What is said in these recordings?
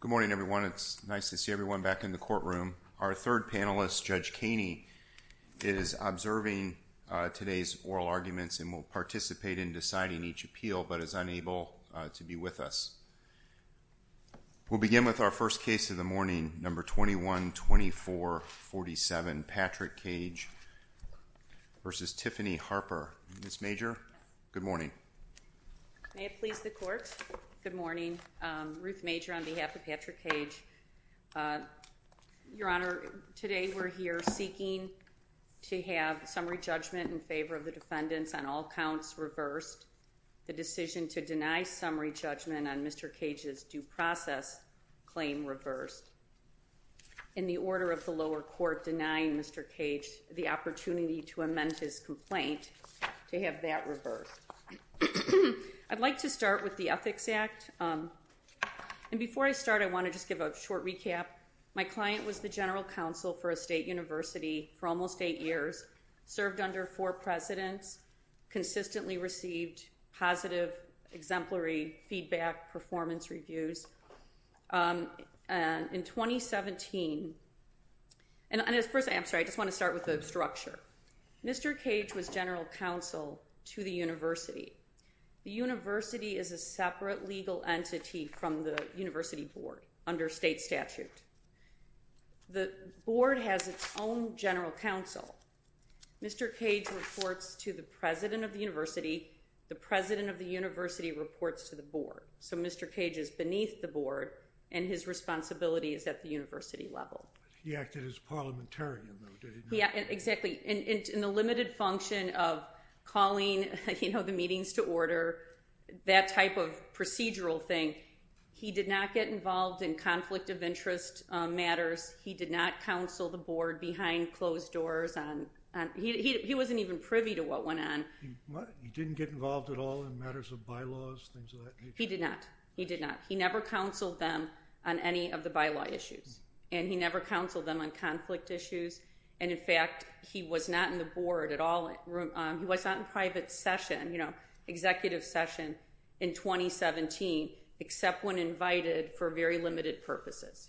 Good morning everyone, it's nice to see everyone back in the courtroom. Our third panelist, Judge Caney, is observing today's oral arguments and will participate in deciding each appeal but is unable to be with us. We'll begin with our first case of the morning, No. 21-2447, Patrick Cage v. Tiffany Harper. Ms. Major, good morning. May it please the court, good morning, Ruth Major on behalf of Patrick Cage. Your Honor, today we're here seeking to have summary judgment in favor of the defendants on all counts reversed. The decision to deny summary judgment on Mr. Cage's due process claim reversed. In the order of the lower court denying Mr. Cage the opportunity to amend his complaint to have that reversed. I'd like to start with the Ethics Act. And before I start, I want to just give a short recap. My client was the general counsel for a state university for almost eight years, served under four presidents, consistently received positive exemplary feedback, performance reviews. In 2017, and I'm sorry, I just want to start with the structure. Mr. Cage was general counsel to the university. The university is a separate legal entity from the university board under state statute. The board has its own general counsel. Mr. Cage reports to the president of the university. The president of the university reports to the board. So Mr. Cage is beneath the board and his responsibility is at the university level. He acted as parliamentarian, though, did he not? Yeah, exactly. And in the limited function of calling, you know, the meetings to order, that type of procedural thing, he did not get involved in conflict of interest matters. He did not counsel the board behind closed doors on, he wasn't even privy to what went on. He didn't get involved at all in matters of bylaws, things of that nature? He did not. He did not. He never counseled them on any of the bylaw issues. And he never counseled them on conflict issues. And in fact, he was not in the board at all. He was not in private session, you know, executive session in 2017, except when invited for very limited purposes.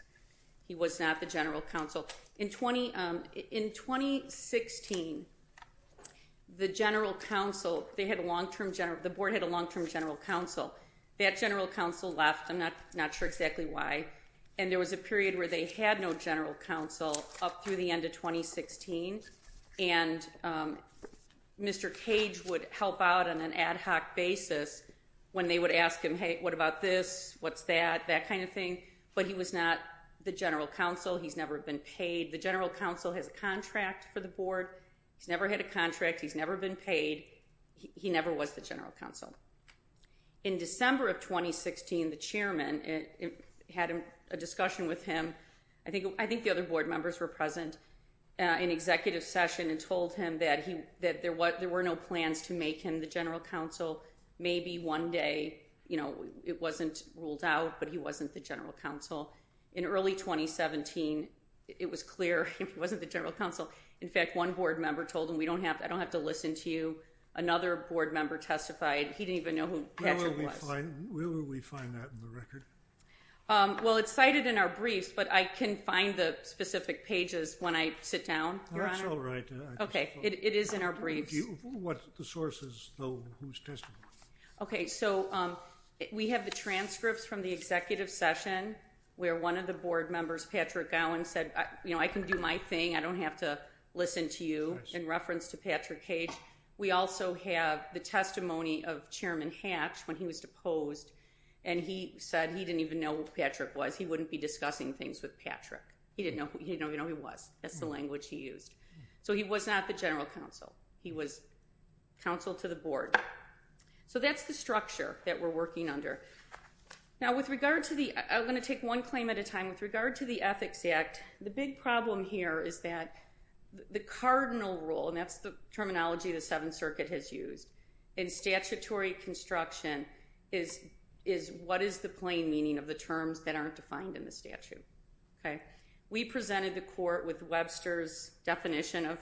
He was not the general counsel. In 2016, the general counsel, they had a long-term, the board had a long-term general counsel. That general counsel left, I'm not sure exactly why, and there was a period where they had no general counsel up through the end of 2016. And Mr. Cage would help out on an ad hoc basis when they would ask him, hey, what about this? What's that? That kind of thing. But he was not the general counsel. He's never been paid. The general counsel has a contract for the board. He's never had a contract. He's never been paid. He never was the general counsel. In December of 2016, the chairman had a discussion with him, I think the other board members were present, in executive session and told him that there were no plans to make him the general counsel. Maybe one day, you know, it wasn't ruled out, but he wasn't the general counsel. In early 2017, it was clear he wasn't the general counsel. In fact, one board member told him, I don't have to listen to you. Another board member testified. He didn't even know who Patrick was. Where will we find that in the record? Well, it's cited in our briefs, but I can find the specific pages when I sit down, Your Honor. Oh, that's all right. Okay. It is in our briefs. What's the sources, though? Who's testifying? Okay. So, we have the transcripts from the executive session where one of the board members, Patrick Gowan, said, you know, I can do my thing, I don't have to listen to you, in reference to Patrick Cage. We also have the testimony of Chairman Hatch when he was deposed, and he said he didn't even know who Patrick was. He wouldn't be discussing things with Patrick. He didn't know who he was. That's the language he used. So, he was not the general counsel. He was counsel to the board. So, that's the structure that we're working under. Now, with regard to the, I'm going to take one claim at a time. With regard to the Ethics Act, the big problem here is that the cardinal rule, and that's the terminology the Seventh Circuit has used, in statutory construction is what is the plain meaning of the terms that aren't defined in the statute. We presented the court with Webster's definition of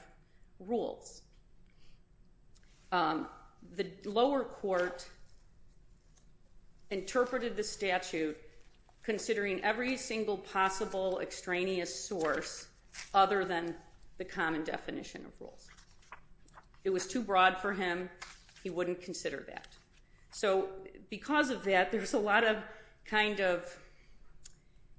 rules. The lower court interpreted the statute considering every single possible extraneous source other than the common definition of rules. It was too broad for him. He wouldn't consider that. So, because of that, there's a lot of kind of,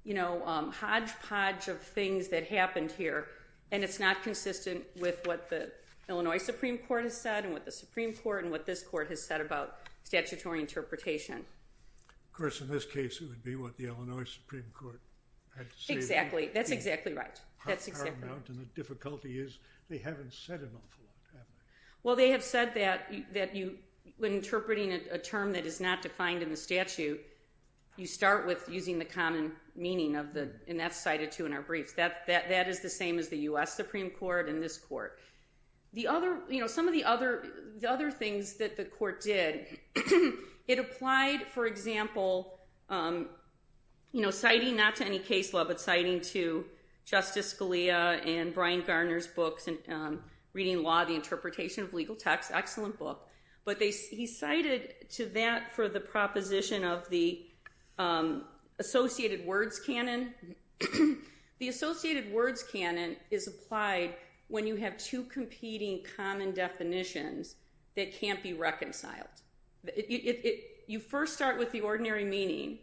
you know, hodgepodge of things that happened here, and it's not consistent with what the Illinois Supreme Court has said, and what the Supreme Court, and what this court has said about statutory interpretation. Of course, in this case, it would be what the Illinois Supreme Court had stated. Exactly. That's exactly right. And the difficulty is, they haven't said an awful lot, have they? Well, they have said that when interpreting a term that is not defined in the statute, you start with using the common meaning of the, and that's cited, too, in our briefs. That is the same as the U.S. Supreme Court and this court. The other, you know, some of the other things that the court did, it applied, for example, you know, citing, not to any case law, but citing to Justice Scalia and Brian Garner's books, Reading Law, the Interpretation of Legal Text, excellent book, but he cited to that for the proposition of the associated words canon. The associated words canon is applied when you have two competing common definitions that can't be reconciled. It, you first start with the ordinary meaning,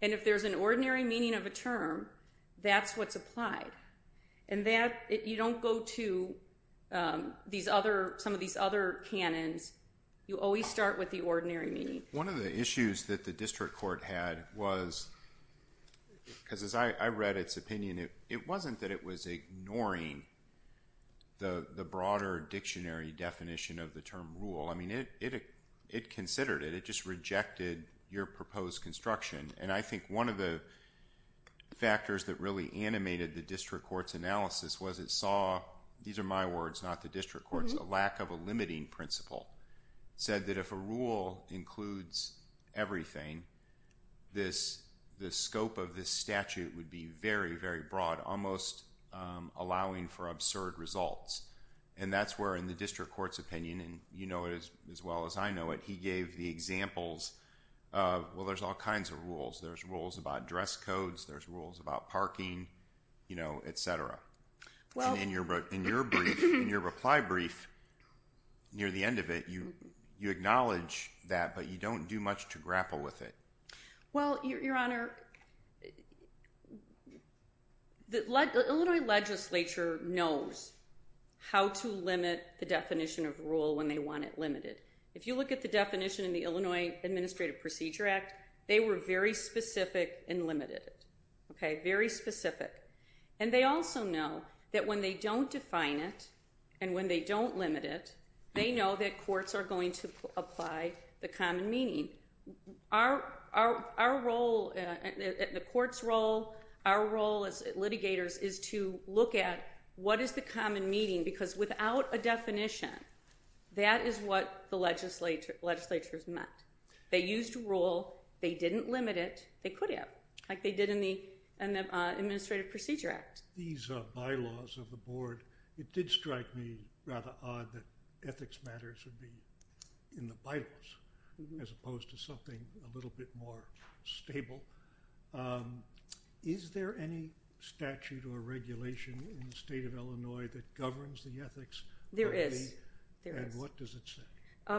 and if there's an ordinary meaning of a term, that's what's applied. And that, you don't go to these other, some of these other canons. You always start with the ordinary meaning. One of the issues that the district court had was, because as I read its opinion, it wasn't that it was ignoring the broader dictionary definition of the term rule. I mean, it considered it. It just rejected your proposed construction. And I think one of the factors that really animated the district court's analysis was it saw, these are my words, not the district court's, a lack of a limiting principle. Said that if a rule includes everything, this, the scope of this statute would be very, very broad, almost allowing for absurd results. And that's where in the district court's opinion, and you know it as well as I know it, he gave the examples of, well, there's all kinds of rules. There's rules about dress codes. There's rules about parking, you know, et cetera. And in your brief, in your reply brief, near the end of it, you acknowledge that, but you don't do much to grapple with it. Well, Your Honor, the Illinois legislature knows how to limit the definition of rule when they want it limited. If you look at the definition in the Illinois Administrative Procedure Act, they were very specific and limited. Okay, very specific. And they also know that when they don't define it, and when they don't limit it, they know that courts are going to apply the common meaning. Our role, the court's role, our role as litigators is to look at what is the common meaning, because without a definition, that is what the legislature's meant. They used rule, they didn't limit it, they could have, like they did in the Administrative Procedure Act. These bylaws of the board, it did strike me rather odd that ethics matters would be in the bylaws, as opposed to something a little bit more stable. Is there any statute or regulation in the state of Illinois that governs the ethics? There is. There is. And what does it say?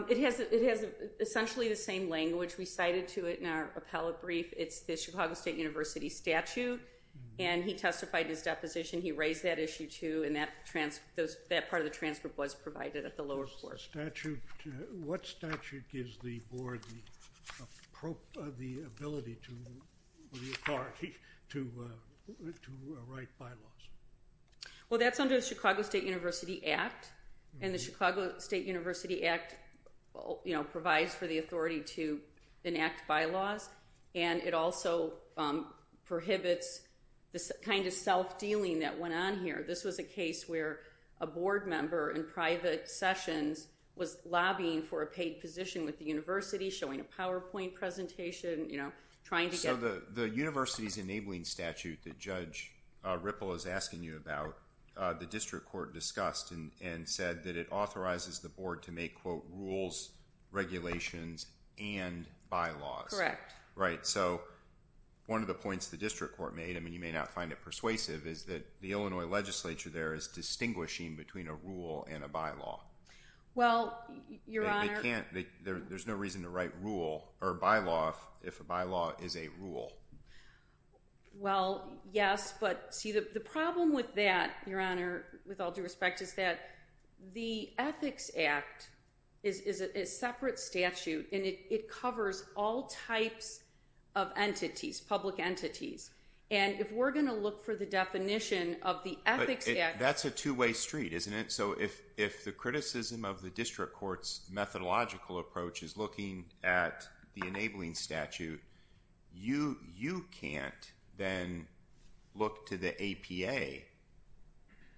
It has essentially the same language we cited to it in our appellate brief. It's the Chicago State University statute, and he testified in his deposition, he raised that issue too, and that part of the transfer was provided at the lower court. What statute gives the board the ability to write bylaws? Well, that's under the Chicago State University Act, and the Chicago State University Act provides for the authority to enact bylaws, and it also prohibits the kind of self-dealing that went on here. This was a case where a board member in private sessions was lobbying for a paid position with the university, showing a PowerPoint presentation, you know, trying to get... So, the university's enabling statute that Judge Ripple is asking you about, the district court discussed and said that it authorizes the board to make, quote, rules, regulations, and bylaws. Correct. Right. So, one of the points the district court made, I mean, you may not find it persuasive, is that the Illinois legislature there is distinguishing between a rule and a bylaw. Well, Your Honor... They can't... There's no reason to write rule or bylaw if a bylaw is a rule. Well, yes, but see, the problem with that, Your Honor, with all due respect, is that the Ethics Act is a separate statute, and it covers all types of entities, public entities, and if we're going to look for the definition of the Ethics Act... But that's a two-way street, isn't it? So, if the criticism of the district court's methodological approach is looking at the enabling statute, you can't then look to the APA,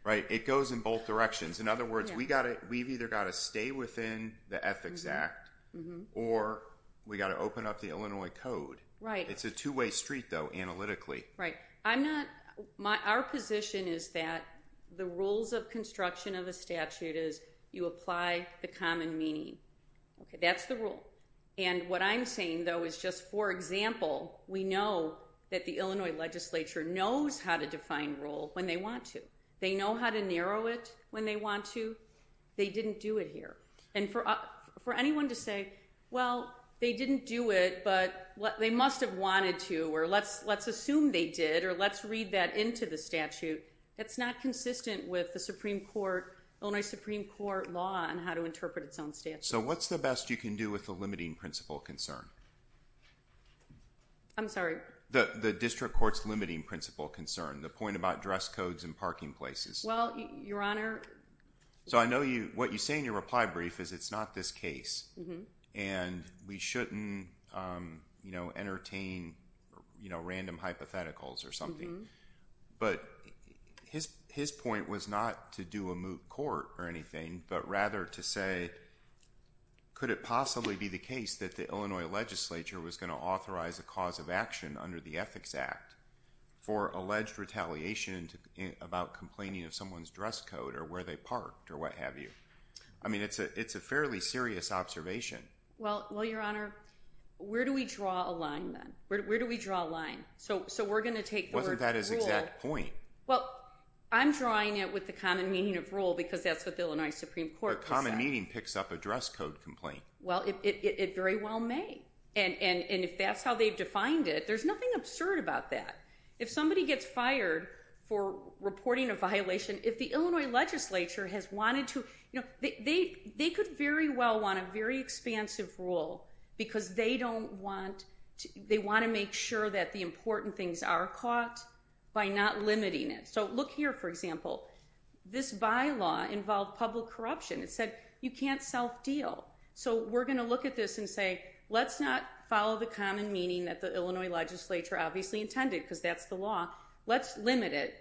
right? It goes in both directions. In other words, we've either got to stay within the Ethics Act, or we've got to open up the Illinois Code. Right. It's a two-way street, though, analytically. Right. I'm not... Our position is that the rules of construction of a statute is you apply the common meaning. That's the rule. And what I'm saying, though, is just, for example, we know that the Illinois legislature knows how to define rule when they want to. They know how to narrow it when they want to. They didn't do it here. And for anyone to say, well, they didn't do it, but they must have wanted to, or let's assume they did, or let's read that into the statute, that's not consistent with the Illinois Supreme Court law on how to interpret its own statute. So, what's the best you can do with the limiting principle concern? I'm sorry? The district court's limiting principle concern. The point about dress codes in parking places. Well, Your Honor... So, I know what you say in your reply brief is it's not this case. And we shouldn't entertain random hypotheticals or something. But his point was not to do a moot court or anything, but rather to say, could it possibly be the case that the Illinois legislature was going to authorize a cause of action under the Ethics Act for alleged retaliation about complaining of someone's dress code or where they parked or what have you? I mean, it's a fairly serious observation. Well, Your Honor, where do we draw a line then? Where do we draw a line? So, we're going to take the word rule... Wasn't that his exact point? Well, I'm drawing it with the common meaning of rule because that's what the Illinois Supreme Court said. The common meaning picks up a dress code complaint. Well, it very well may. And if that's how they've defined it, there's nothing absurd about that. If somebody gets fired for reporting a violation, if the Illinois legislature has wanted to... They could very well want a very expansive rule because they want to make sure that the important things are caught by not limiting it. So, look here, for example. This bylaw involved public corruption. It said you can't self-deal. So, we're going to look at this and say, let's not follow the common meaning that the Illinois legislature obviously intended because that's the law. Let's limit it.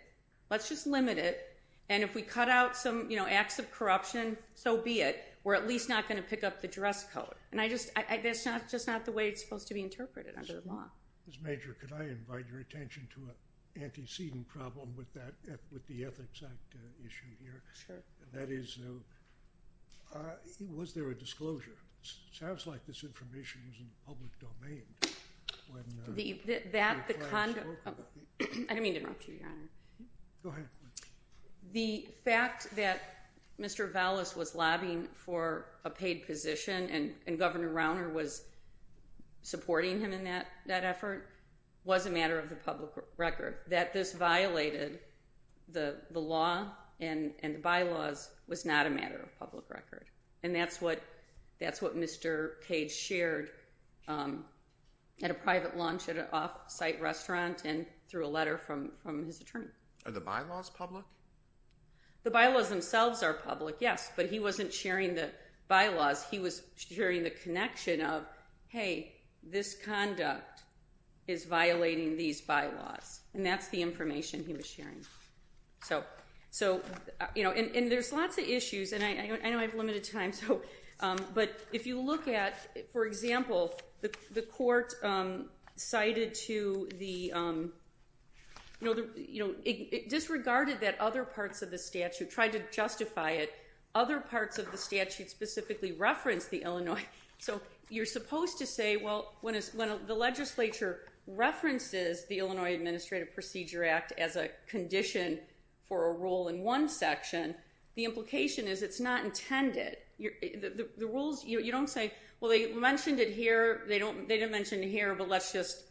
Let's just limit it. And if we cut out some acts of corruption, so be it. We're at least not going to pick up the dress code. And that's just not the way it's supposed to be interpreted under the law. Ms. Major, could I invite your attention to an antecedent problem with the Ethics Act issue here? Sure. That is, was there a disclosure? It sounds like this information is in the public domain. I didn't mean to interrupt you, Your Honor. Go ahead. The fact that Mr. Vallis was lobbying for a paid position and Governor Rauner was supporting him in that effort was a matter of the public record. That this violated the law and the bylaws was not a matter of public record. And that's what Mr. Cage shared at a private lunch at an off-site restaurant and through a letter from his attorney. Are the bylaws public? The bylaws themselves are public, yes. But he wasn't sharing the bylaws. He was sharing the connection of, hey, this conduct is violating these bylaws. And that's the information he was sharing. And there's lots of issues. And I know I have limited time. But if you look at, for example, the court cited to the, it disregarded that other parts of the statute, tried to justify it. Other parts of the statute specifically referenced the Illinois. So you're supposed to say, well, when the legislature references the Illinois Administrative Procedure Act as a condition for a rule in one section, the implication is it's not intended. The rules, you don't say, well, they mentioned it here. They didn't mention it here. But let's just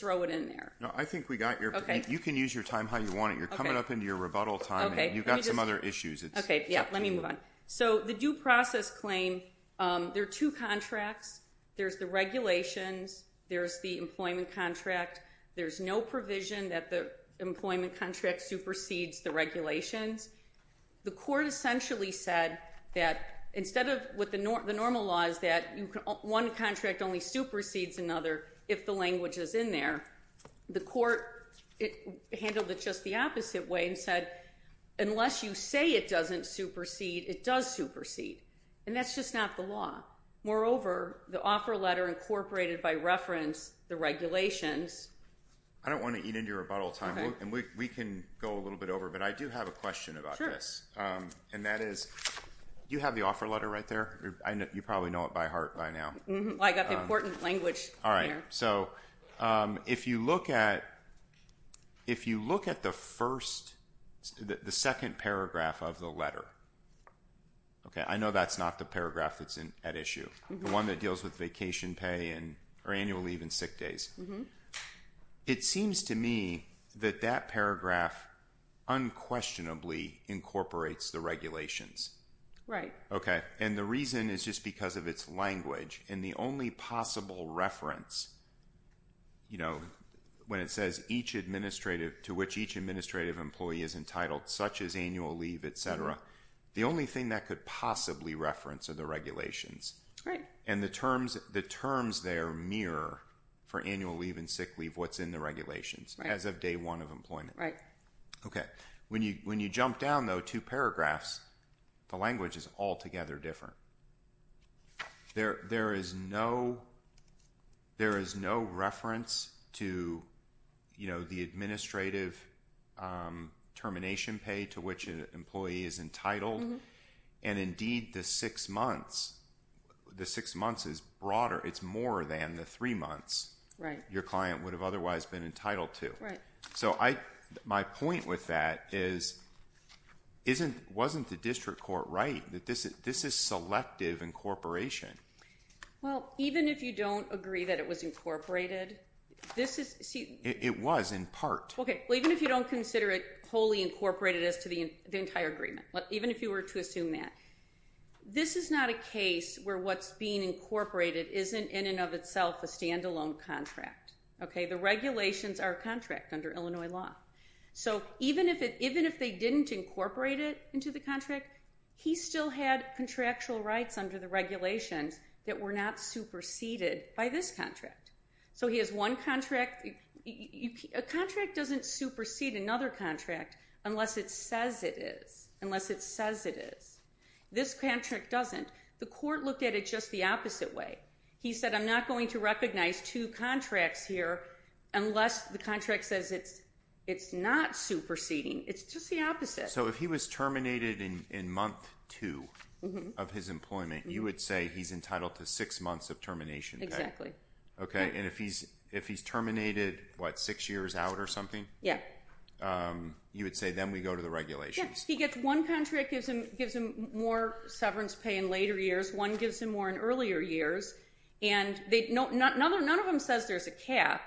throw it in there. No, I think we got your, you can use your time how you want it. You're coming up into your rebuttal time and you've got some other issues. Okay, yeah, let me move on. So the due process claim, there are two contracts. There's the regulations. There's the employment contract. There's no provision that the employment contract supersedes the regulations. The court essentially said that instead of what the normal law is that one contract only supersedes another if the language is in there. The court handled it just the opposite way and said, unless you say it doesn't supersede, it does supersede. And that's just not the law. Moreover, the offer letter incorporated by reference, the regulations. I don't want to eat into your rebuttal time. We can go a little bit over, but I do have a question about this. Sure. And that is, do you have the offer letter right there? You probably know it by heart by now. I got the important language in there. All right, so if you look at the first, the second paragraph of the letter. Okay, I know that's not the paragraph that's at issue. The one that deals with vacation pay or annual leave and sick days. It seems to me that that paragraph unquestionably incorporates the regulations. Right. Okay, and the reason is just because of its language. And the only possible reference, you know, when it says to which each administrative employee is entitled, such as annual leave, et cetera, the only thing that could possibly reference are the regulations. Right. And the terms there mirror for annual leave and sick leave what's in the regulations. Right. As of day one of employment. Right. Okay, when you jump down, though, two paragraphs, the language is altogether different. There is no reference to, you know, the administrative termination pay to which an employee is entitled. And indeed, the six months is broader. It's more than the three months your client would have otherwise been entitled to. Right. So my point with that is wasn't the district court right? That this is selective incorporation. Well, even if you don't agree that it was incorporated, this is see. It was in part. Okay, well, even if you don't consider it wholly incorporated as to the entire agreement, even if you were to assume that, this is not a case where what's being incorporated isn't in and of itself a standalone contract. Okay, the regulations are contract under Illinois law. So even if they didn't incorporate it into the contract, he still had contractual rights under the regulations that were not superseded by this contract. So he has one contract. A contract doesn't supersede another contract unless it says it is. Unless it says it is. This contract doesn't. The court looked at it just the opposite way. He said I'm not going to recognize two contracts here unless the contract says it's not superseding. It's just the opposite. So if he was terminated in month two of his employment, you would say he's entitled to six months of termination. Exactly. Okay, and if he's terminated, what, six years out or something? Yeah. You would say then we go to the regulations. He gets one contract, gives him more severance pay in later years. One gives him more in earlier years. And none of them says there's a cap.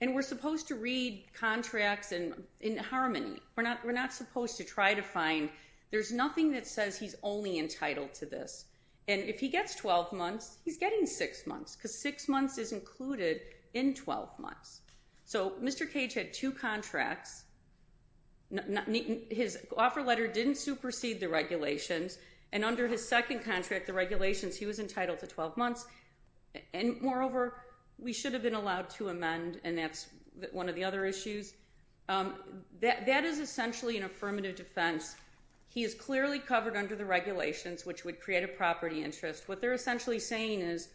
And we're supposed to read contracts in harmony. We're not supposed to try to find. There's nothing that says he's only entitled to this. And if he gets 12 months, he's getting six months because six months is included in 12 months. So Mr. Cage had two contracts. His offer letter didn't supersede the regulations. And under his second contract, the regulations, he was entitled to 12 months. And, moreover, we should have been allowed to amend, and that's one of the other issues. That is essentially an affirmative defense. He is clearly covered under the regulations, which would create a property interest. What they're essentially saying is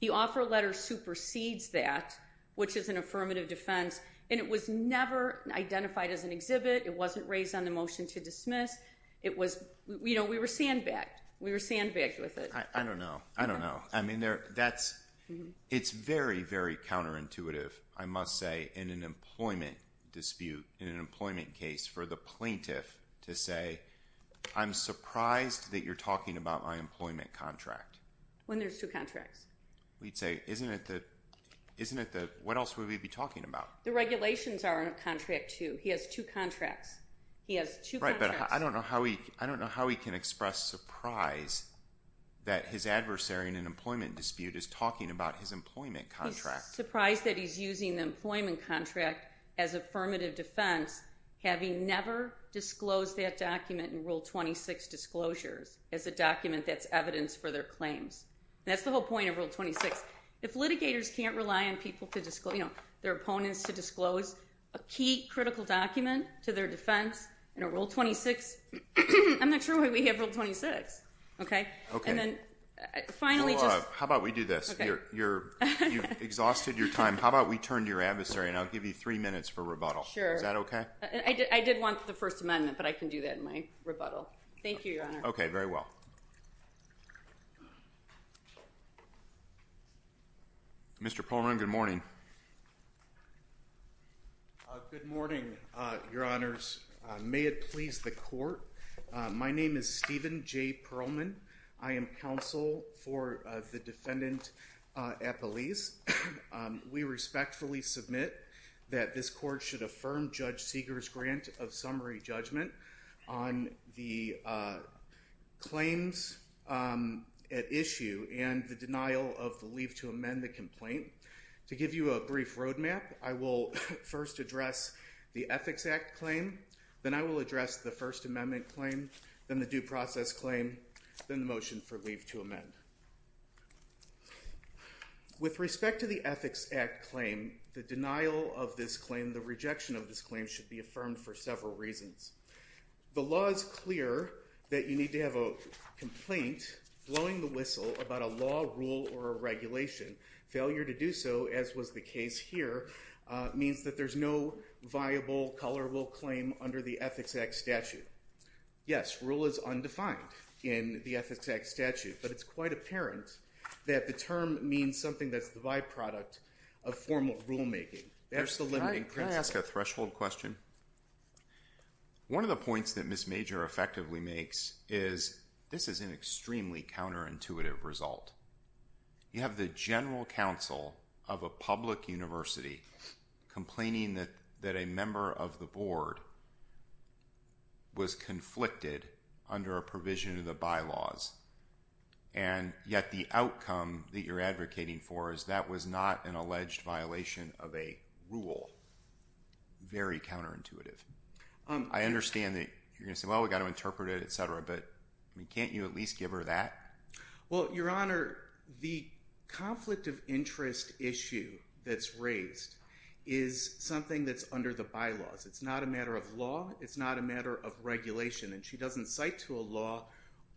the offer letter supersedes that, which is an affirmative defense. And it was never identified as an exhibit. It wasn't raised on the motion to dismiss. We were sandbagged. We were sandbagged with it. I don't know. I don't know. It's very, very counterintuitive, I must say, in an employment dispute, in an employment case, for the plaintiff to say, I'm surprised that you're talking about my employment contract. When there's two contracts. We'd say, isn't it the, what else would we be talking about? The regulations are a contract, too. He has two contracts. He has two contracts. Right, but I don't know how he can express surprise that his adversary in an employment dispute is talking about his employment contract. He's surprised that he's using the employment contract as affirmative defense, having never disclosed that document in Rule 26 disclosures as a document that's evidence for their claims. That's the whole point of Rule 26. If litigators can't rely on people to disclose, their opponents to disclose a key critical document to their defense in a Rule 26, I'm not sure why we have Rule 26. Okay? Okay. How about we do this? You've exhausted your time. How about we turn to your adversary, and I'll give you three minutes for rebuttal. Sure. Is that okay? I did want the First Amendment, but I can do that in my rebuttal. Thank you, Your Honor. Okay, very well. Mr. Perlman, good morning. Good morning, Your Honors. May it please the Court. My name is Stephen J. Perlman. I am counsel for the defendant at Belize. We respectfully submit that this Court should affirm Judge Seeger's grant of summary judgment on the claims at issue and the denial of the leave to amend the complaint. To give you a brief roadmap, I will first address the Ethics Act claim, then I will address the First Amendment claim, then the due process claim, then the motion for leave to amend. With respect to the Ethics Act claim, the denial of this claim, the rejection of this claim, should be affirmed for several reasons. The law is clear that you need to have a complaint blowing the whistle about a law, rule, or a regulation. Failure to do so, as was the case here, means that there's no viable, tolerable claim under the Ethics Act statute. Yes, rule is undefined in the Ethics Act statute, but it's quite apparent that the term means something that's the byproduct of formal rulemaking. There's the limiting principle. Can I ask a threshold question? One of the points that Ms. Major effectively makes is this is an extremely counterintuitive result. You have the general counsel of a public university complaining that a member of the board was conflicted under a provision of the bylaws, and yet the outcome that you're advocating for is that was not an alleged violation of a rule. Very counterintuitive. I understand that you're going to say, well, we've got to interpret it, etc., but can't you at least give her that? Well, Your Honor, the conflict of interest issue that's raised is something that's under the bylaws. It's not a matter of law. It's not a matter of regulation, and she doesn't cite to a law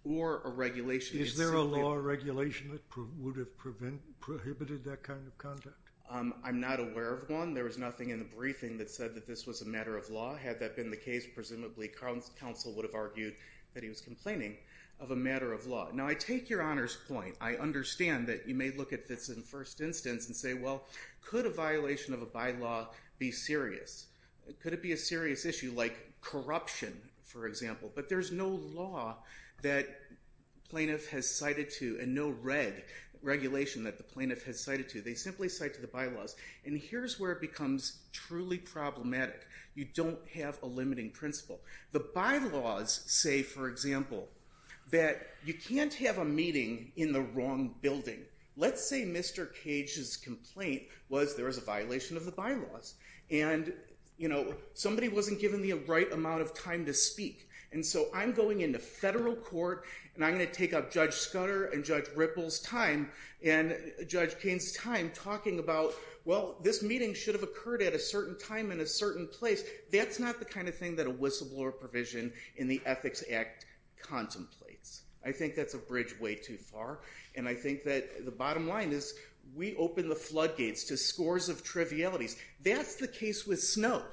or a regulation. Is there a law or regulation that would have prohibited that kind of conduct? I'm not aware of one. There was nothing in the briefing that said that this was a matter of law. Had that been the case, presumably counsel would have argued that he was complaining of a matter of law. Now, I take Your Honor's point. I understand that you may look at this in the first instance and say, well, could a violation of a bylaw be serious? Could it be a serious issue like corruption, for example? But there's no law that plaintiff has cited to and no regulation that the plaintiff has cited to. They simply cite to the bylaws, and here's where it becomes truly problematic. You don't have a limiting principle. The bylaws say, for example, that you can't have a meeting in the wrong building. Let's say Mr. Cage's complaint was there was a violation of the bylaws, and, you know, somebody wasn't giving me the right amount of time to speak, and so I'm going into federal court, and I'm going to take up Judge Scudder and Judge Ripple's time and Judge Cain's time talking about, well, this meeting should have occurred at a certain time and a certain place. That's not the kind of thing that a whistleblower provision in the Ethics Act contemplates. I think that's a bridge way too far, and I think that the bottom line is we open the floodgates to scores of trivialities. That's the case with Snow.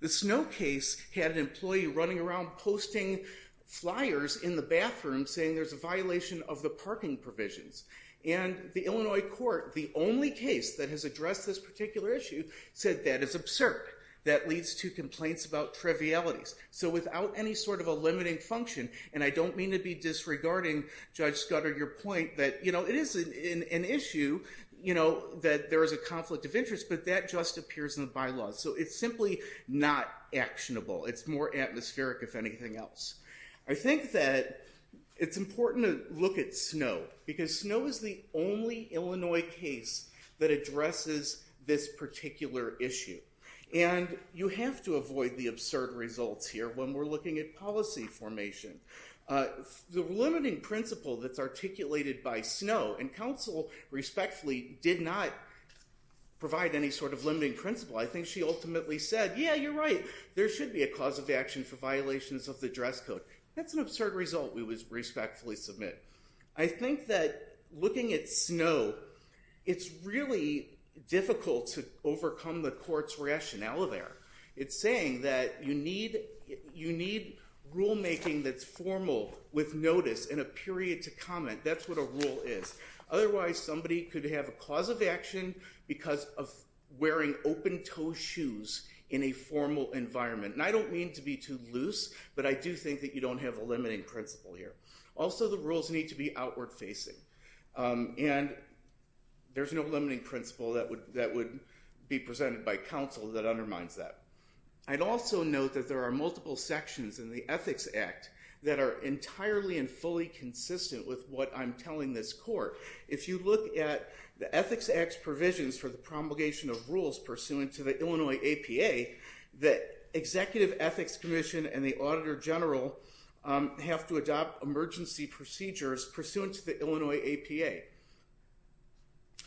The Snow case had an employee running around posting flyers in the bathroom saying there's a violation of the parking provisions, and the Illinois court, the only case that has addressed this particular issue, said that is absurd. That leads to complaints about trivialities. So without any sort of a limiting function, and I don't mean to be disregarding Judge Scudder, your point that, you know, it is an issue, you know, that there is a conflict of interest, but that just appears in the bylaws. So it's simply not actionable. It's more atmospheric, if anything else. I think that it's important to look at Snow because Snow is the only Illinois case that addresses this particular issue. And you have to avoid the absurd results here when we're looking at policy formation. The limiting principle that's articulated by Snow, and counsel respectfully did not provide any sort of limiting principle. I think she ultimately said, yeah, you're right. There should be a cause of action for violations of the dress code. That's an absurd result, we would respectfully submit. I think that looking at Snow, it's really difficult to overcome the court's rationale there. It's saying that you need rulemaking that's formal with notice and a period to comment. That's what a rule is. Otherwise, somebody could have a cause of action because of wearing open-toe shoes in a formal environment. And I don't mean to be too loose, but I do think that you don't have a limiting principle here. Also, the rules need to be outward facing. And there's no limiting principle that would be presented by counsel that undermines that. I'd also note that there are multiple sections in the Ethics Act that are entirely and fully consistent with what I'm telling this court. If you look at the Ethics Act's provisions for the promulgation of rules pursuant to the Illinois APA, the Executive Ethics Commission and the Auditor General have to adopt emergency procedures pursuant to the Illinois APA.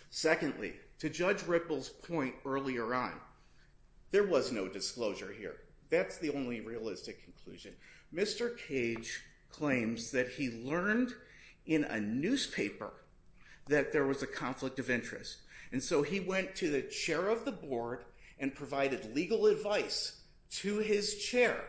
Secondly, to Judge Ripple's point earlier on, there was no disclosure here. That's the only realistic conclusion. Mr. Cage claims that he learned in a newspaper that there was a conflict of interest. And so he went to the chair of the board and provided legal advice to his chair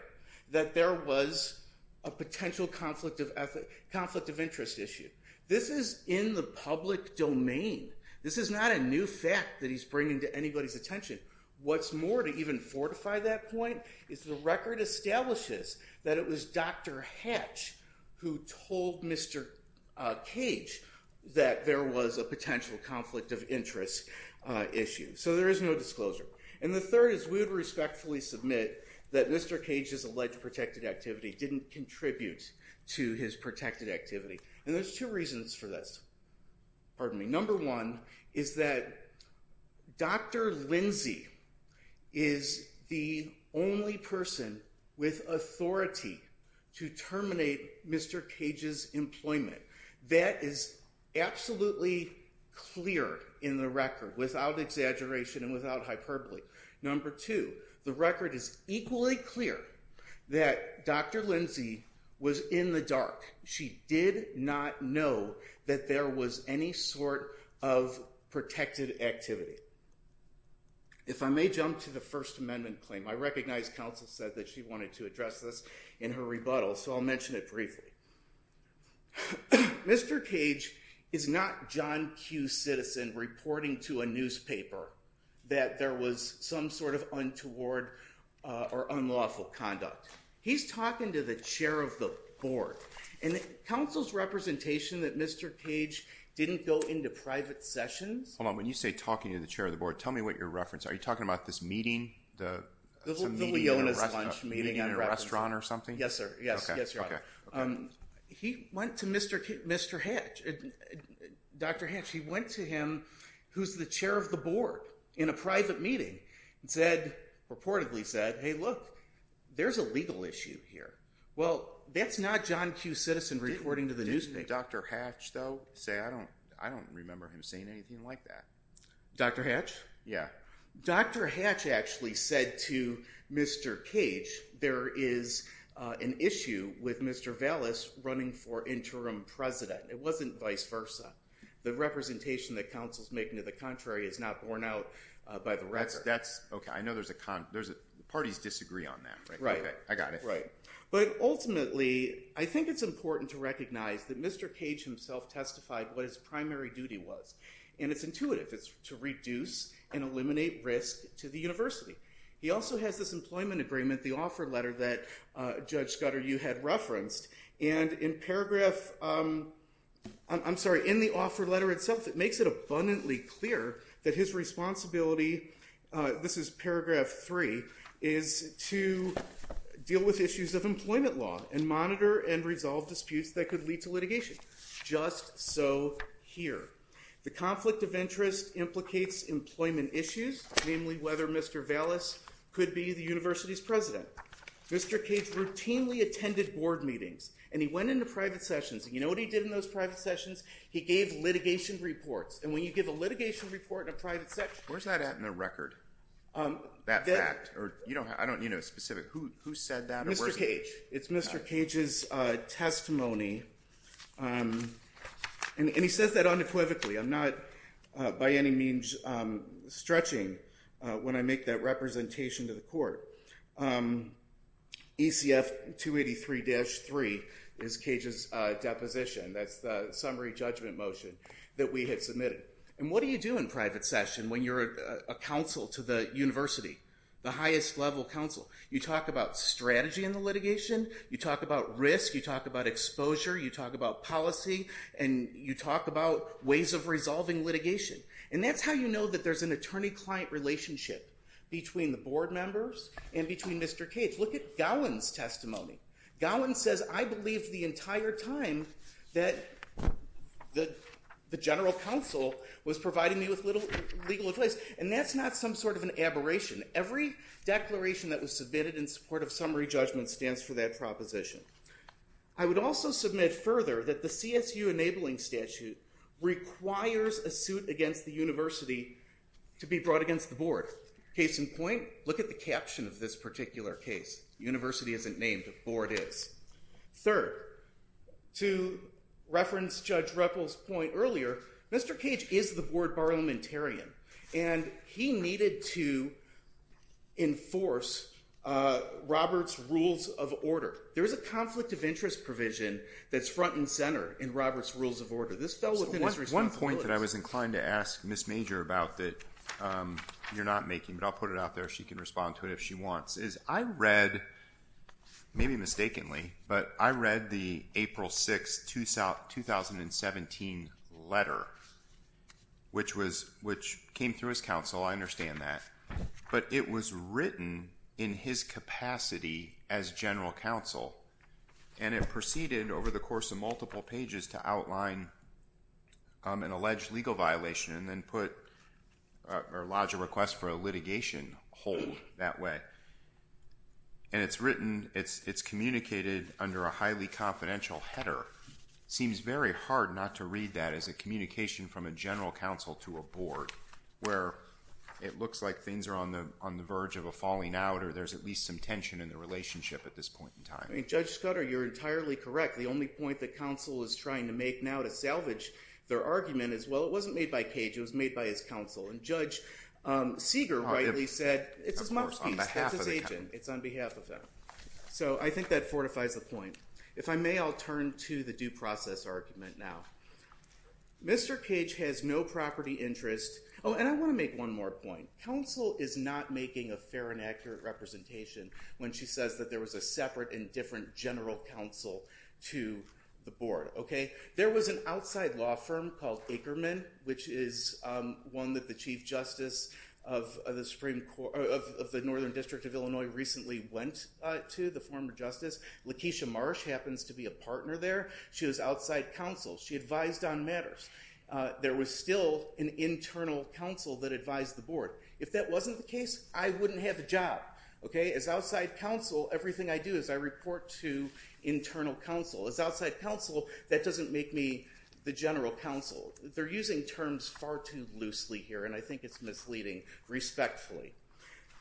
that there was a potential conflict of interest issue. This is in the public domain. This is not a new fact that he's bringing to anybody's attention. What's more, to even fortify that point, is the record establishes that it was Dr. Hatch who told Mr. Cage that there was a potential conflict of interest issue. So there is no disclosure. And the third is we would respectfully submit that Mr. Cage's alleged protected activity didn't contribute to his protected activity. And there's two reasons for this. Pardon me. Number one is that Dr. Lindsay is the only person with authority to terminate Mr. Cage's employment. That is absolutely clear in the record without exaggeration and without hyperbole. Number two, the record is equally clear that Dr. Lindsay was in the dark. She did not know that there was any sort of protected activity. If I may jump to the First Amendment claim, I recognize counsel said that she wanted to address this in her rebuttal, so I'll mention it briefly. Mr. Cage is not John Q. Citizen reporting to a newspaper that there was some sort of untoward or unlawful conduct. He's talking to the chair of the board. And counsel's representation that Mr. Cage didn't go into private sessions. Hold on. When you say talking to the chair of the board, tell me what you're referencing. Are you talking about this meeting? The Leona's lunch meeting. Meeting in a restaurant or something? Yes, sir. Yes, yes, Your Honor. He went to Mr. Hatch. Dr. Hatch, he went to him, who's the chair of the board, in a private meeting and said, reportedly said, hey, look, there's a legal issue here. Well, that's not John Q. Citizen reporting to the newspaper. Didn't Dr. Hatch, though, say, I don't remember him saying anything like that? Dr. Hatch? Yeah. Dr. Hatch actually said to Mr. Cage, there is an issue with Mr. Vallis running for interim president. It wasn't vice versa. The representation that counsel's making to the contrary is not borne out by the record. I know there's a con. Parties disagree on that. Right. I got it. Right. But ultimately, I think it's important to recognize that Mr. Cage himself testified what his primary duty was. And it's intuitive. It's to reduce and eliminate risk to the university. He also has this employment agreement, the offer letter that Judge Scudder, you had referenced. And in paragraph, I'm sorry, in the offer letter itself, it makes it abundantly clear that his responsibility, this is paragraph three, is to deal with issues of employment law and monitor and resolve disputes that could lead to litigation. Just so here. The conflict of interest implicates employment issues, namely whether Mr. Vallis could be the university's president. Mr. Cage routinely attended board meetings. And he went into private sessions. And you know what he did in those private sessions? He gave litigation reports. And when you give a litigation report in a private session. Where's that at in the record? That fact? I don't need a specific. Who said that? Mr. Cage. It's Mr. Cage's testimony. And he says that unequivocally. I'm not by any means stretching when I make that representation to the court. ECF 283-3 is Cage's deposition. That's the summary judgment motion that we had submitted. And what do you do in private session when you're a counsel to the university? The highest level counsel. You talk about strategy in the litigation. You talk about risk. You talk about exposure. You talk about policy. And you talk about ways of resolving litigation. And that's how you know that there's an attorney-client relationship. Between the board members and between Mr. Cage. Look at Gowen's testimony. Gowen says, I believed the entire time that the general counsel was providing me with legal advice. And that's not some sort of an aberration. Every declaration that was submitted in support of summary judgment stands for that proposition. I would also submit further that the CSU enabling statute requires a suit against the university to be brought against the board. Case in point, look at the caption of this particular case. University isn't named. Board is. Third, to reference Judge Ruppel's point earlier, Mr. Cage is the board parliamentarian. And he needed to enforce Robert's rules of order. There is a conflict of interest provision that's front and center in Robert's rules of order. This fell within his responsibilities. One point that I was inclined to ask Ms. Major about that you're not making, but I'll put it out there. She can respond to it if she wants. Is I read, maybe mistakenly, but I read the April 6, 2017 letter. Which came through his counsel. I understand that. But it was written in his capacity as general counsel. And it proceeded over the course of multiple pages to outline an alleged legal violation. And then put or lodge a request for a litigation hold that way. And it's written, it's communicated under a highly confidential header. Seems very hard not to read that as a communication from a general counsel to a board. Where it looks like things are on the verge of a falling out. Or there's at least some tension in the relationship at this point in time. I mean, Judge Scudder, you're entirely correct. The only point that counsel is trying to make now to salvage their argument is, well, it wasn't made by Cage. It was made by his counsel. And Judge Seeger rightly said, it's a mouthpiece. That's his agent. It's on behalf of him. So I think that fortifies the point. If I may, I'll turn to the due process argument now. Mr. Cage has no property interest. Oh, and I want to make one more point. Counsel is not making a fair and accurate representation when she says that there was a separate and different general counsel to the board. Okay. There was an outside law firm called Ackerman, which is one that the Chief Justice of the Northern District of Illinois recently went to. The former justice. Lakeisha Marsh happens to be a partner there. She was outside counsel. She advised on matters. There was still an internal counsel that advised the board. If that wasn't the case, I wouldn't have a job. Okay. As outside counsel, everything I do is I report to internal counsel. As outside counsel, that doesn't make me the general counsel. They're using terms far too loosely here, and I think it's misleading respectfully.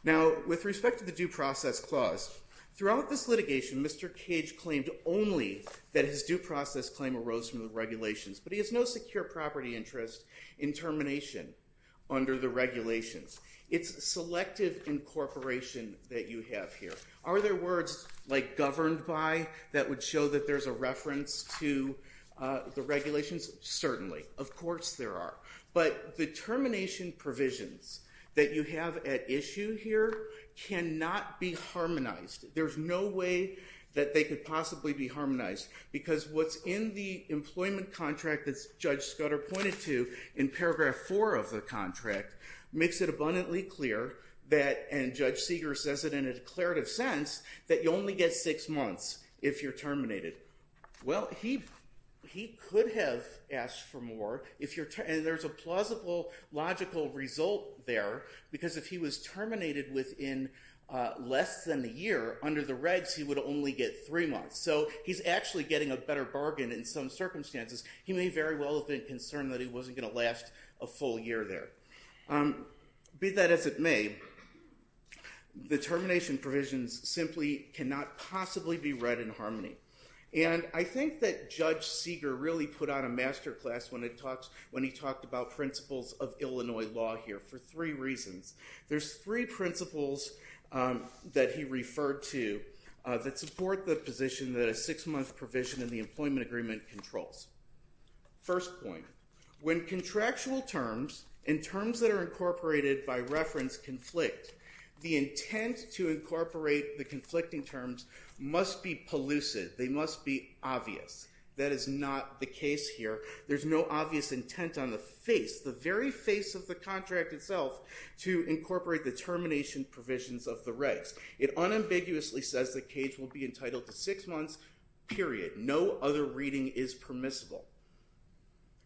Now, with respect to the due process clause, throughout this litigation, Mr. Cage claimed only that his due process claim arose from the regulations. But he has no secure property interest in termination under the regulations. It's selective incorporation that you have here. Are there words like governed by that would show that there's a reference to the regulations? Certainly. Of course there are. But the termination provisions that you have at issue here cannot be harmonized. There's no way that they could possibly be harmonized. Because what's in the employment contract that Judge Scudder pointed to in paragraph 4 of the contract makes it abundantly clear that, and Judge Seeger says it in a declarative sense, that you only get six months if you're terminated. Well, he could have asked for more. And there's a plausible, logical result there. Because if he was terminated within less than a year under the regs, he would only get three months. So he's actually getting a better bargain in some circumstances. He may very well have been concerned that he wasn't going to last a full year there. Be that as it may, the termination provisions simply cannot possibly be read in harmony. And I think that Judge Seeger really put out a master class when he talked about principles of Illinois law here for three reasons. There's three principles that he referred to that support the position that a six-month provision in the employment agreement controls. First point, when contractual terms and terms that are incorporated by reference conflict, the intent to incorporate the conflicting terms must be pellucid. They must be obvious. That is not the case here. There's no obvious intent on the face, the very face of the contract itself, to incorporate the termination provisions of the regs. It unambiguously says that Cage will be entitled to six months, period. No other reading is permissible.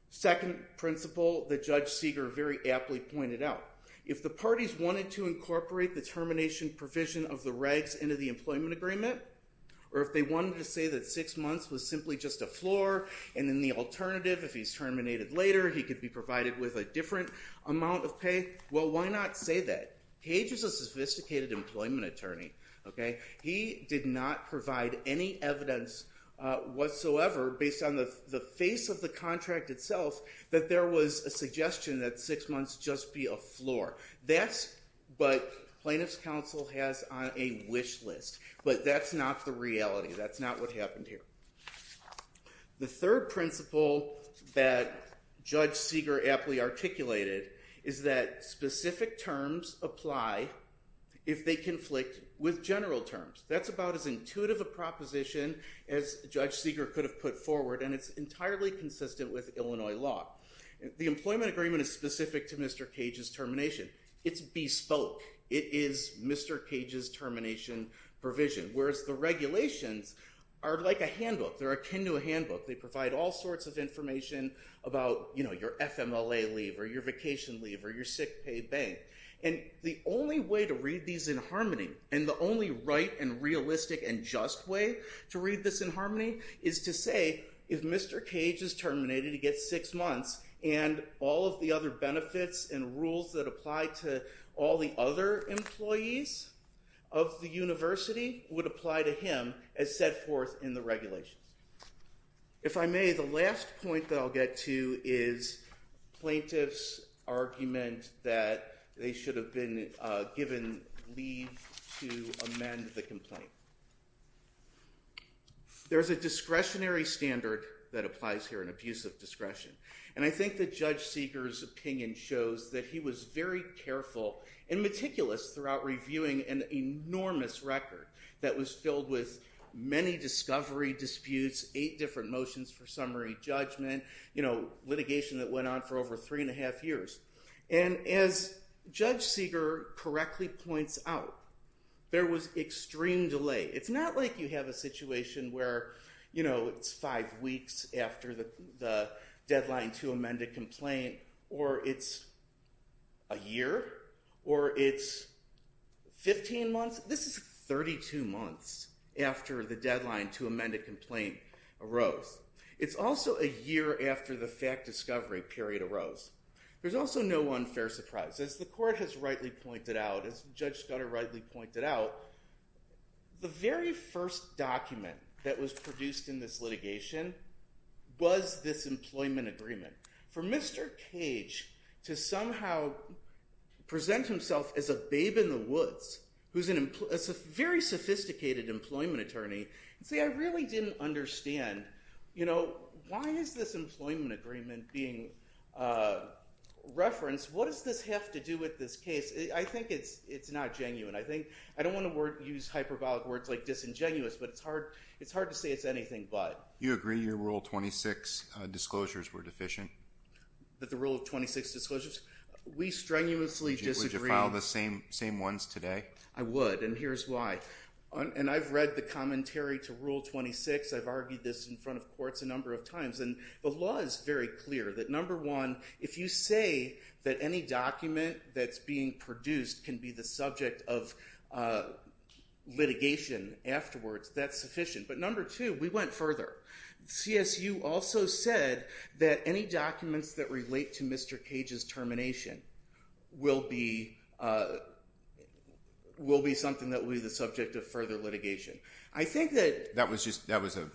Second principle that Judge Seeger very aptly pointed out, if the parties wanted to incorporate the termination provision of the regs into the employment agreement, or if they wanted to say that six months was simply just a floor, and then the alternative, if he's terminated later, he could be provided with a different amount of pay, well, why not say that? Cage is a sophisticated employment attorney. He did not provide any evidence whatsoever, based on the face of the contract itself, that there was a suggestion that six months just be a floor. That's what plaintiff's counsel has on a wish list. But that's not the reality. That's not what happened here. The third principle that Judge Seeger aptly articulated is that specific terms apply if they conflict with general terms. That's about as intuitive a proposition as Judge Seeger could have put forward, and it's entirely consistent with Illinois law. The employment agreement is specific to Mr. Cage's termination. It's bespoke. It is Mr. Cage's termination provision, whereas the regulations are like a handbook. They're akin to a handbook. They provide all sorts of information about your FMLA leave or your vacation leave or your sick pay bank. And the only way to read these in harmony and the only right and realistic and just way to read this in harmony is to say if Mr. Cage is terminated, he gets six months, and all of the other benefits and rules that apply to all the other employees of the university would apply to him as set forth in the regulations. If I may, the last point that I'll get to is plaintiffs' argument that they should have been given leave to amend the complaint. There's a discretionary standard that applies here, an abuse of discretion, and I think that Judge Seeger's opinion shows that he was very careful and meticulous throughout reviewing an enormous record that was filled with many discovery disputes, eight different motions for summary judgment, litigation that went on for over three and a half years. And as Judge Seeger correctly points out, there was extreme delay. It's not like you have a situation where it's five weeks after the deadline to amend a complaint or it's a year or it's 15 months. This is 32 months after the deadline to amend a complaint arose. It's also a year after the fact discovery period arose. There's also no unfair surprise. As the court has rightly pointed out, as Judge Scudder rightly pointed out, the very first document that was produced in this litigation was this employment agreement. For Mr. Cage to somehow present himself as a babe in the woods, who's a very sophisticated employment attorney, and say, I really didn't understand, you know, why is this employment agreement being referenced? What does this have to do with this case? I think it's not genuine. I don't want to use hyperbolic words like disingenuous, but it's hard to say it's anything but. You agree your Rule 26 disclosures were deficient? That the Rule 26 disclosures? We strenuously disagree. Would you file the same ones today? I would, and here's why. And I've read the commentary to Rule 26. I've argued this in front of courts a number of times, and the law is very clear. That number one, if you say that any document that's being produced can be the subject of litigation afterwards, that's sufficient. But number two, we went further. CSU also said that any documents that relate to Mr. Cage's termination will be something that will be the subject of further litigation. That was in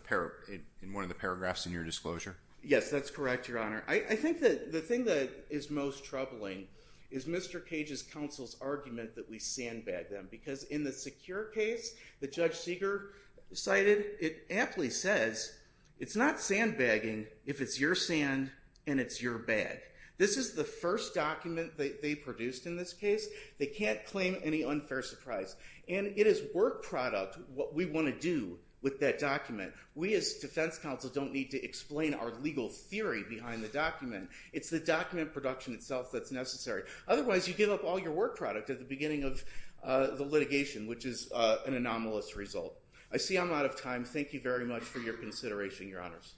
one of the paragraphs in your disclosure? Yes, that's correct, Your Honor. I think that the thing that is most troubling is Mr. Cage's counsel's argument that we sandbag them. Because in the secure case that Judge Seeger cited, it aptly says, it's not sandbagging if it's your sand and it's your bag. This is the first document that they produced in this case. They can't claim any unfair surprise. And it is work product what we want to do with that document. We as defense counsel don't need to explain our legal theory behind the document. It's the document production itself that's necessary. Otherwise, you give up all your work product at the beginning of the litigation, which is an anomalous result. I see I'm out of time. Thank you very much for your consideration, Your Honors.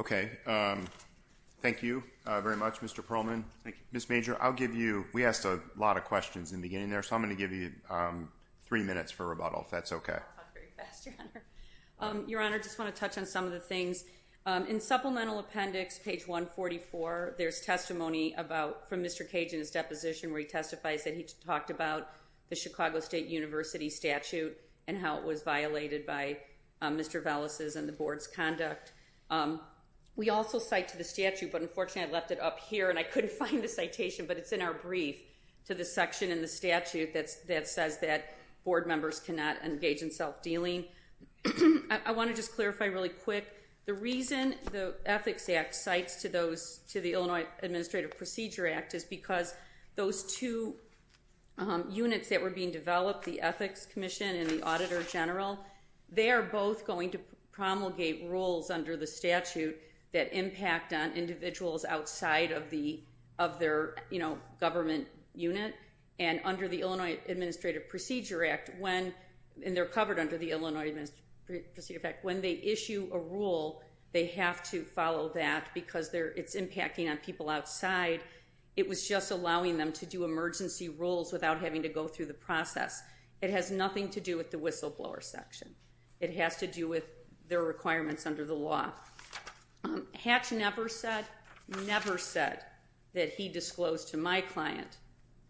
Okay. Thank you very much, Mr. Perlman. Thank you. Ms. Major, I'll give you—we asked a lot of questions in the beginning there, so I'm going to give you three minutes for rebuttal, if that's okay. I'll talk very fast, Your Honor. Your Honor, I just want to touch on some of the things. In Supplemental Appendix, page 144, there's testimony from Mr. Cage in his deposition where he testifies that he talked about the Chicago State University statute and how it was violated by Mr. Velasquez and the board's conduct. We also cite to the statute, but unfortunately I left it up here, and I couldn't find the citation, but it's in our brief to the section in the statute that says that board members cannot engage in self-dealing. I want to just clarify really quick. The reason the Ethics Act cites to the Illinois Administrative Procedure Act is because those two units that were being developed, the Ethics Commission and the Auditor General, they are both going to promulgate rules under the statute that impact on individuals outside of their government unit. Under the Illinois Administrative Procedure Act, and they're covered under the Illinois Administrative Procedure Act, when they issue a rule, they have to follow that because it's impacting on people outside. It was just allowing them to do emergency rules without having to go through the process. It has nothing to do with the whistleblower section. It has to do with their requirements under the law. Hatch never said that he disclosed to my client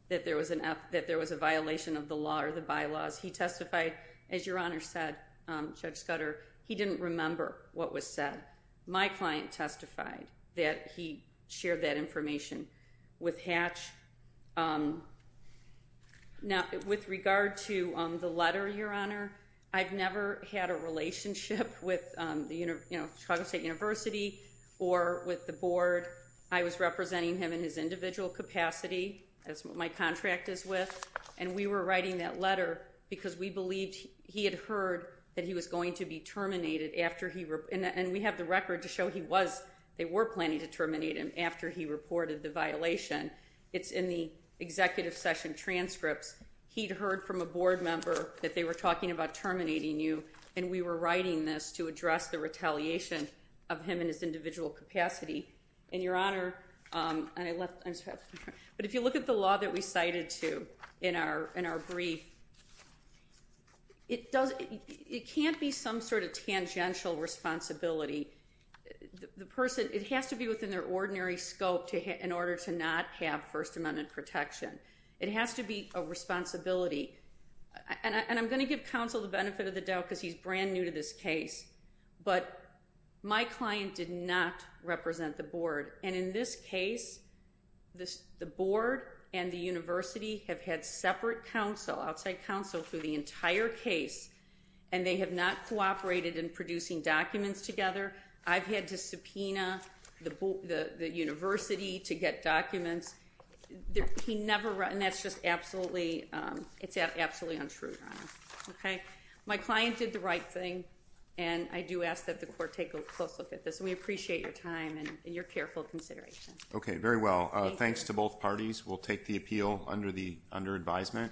that there was a violation of the law or the bylaws. He testified, as Your Honor said, Judge Scudder, he didn't remember what was said. My client testified that he shared that information with Hatch. Now, with regard to the letter, Your Honor, I've never had a relationship with the Chicago State University or with the board. I was representing him in his individual capacity. That's what my contract is with. And we were writing that letter because we believed he had heard that he was going to be terminated. And we have the record to show they were planning to terminate him after he reported the violation. It's in the executive session transcripts. He'd heard from a board member that they were talking about terminating you, and we were writing this to address the retaliation of him in his individual capacity. And, Your Honor, but if you look at the law that we cited, too, in our brief, it can't be some sort of tangential responsibility. The person, it has to be within their ordinary scope in order to not have First Amendment protection. It has to be a responsibility. And I'm going to give counsel the benefit of the doubt because he's brand new to this case. But my client did not represent the board. And in this case, the board and the university have had separate counsel, outside counsel, through the entire case. And they have not cooperated in producing documents together. I've had to subpoena the university to get documents. He never, and that's just absolutely, it's absolutely untrue, Your Honor. Okay? My client did the right thing. And I do ask that the court take a close look at this. And we appreciate your time and your careful consideration. Okay, very well. Thanks to both parties. We'll take the appeal under advisement.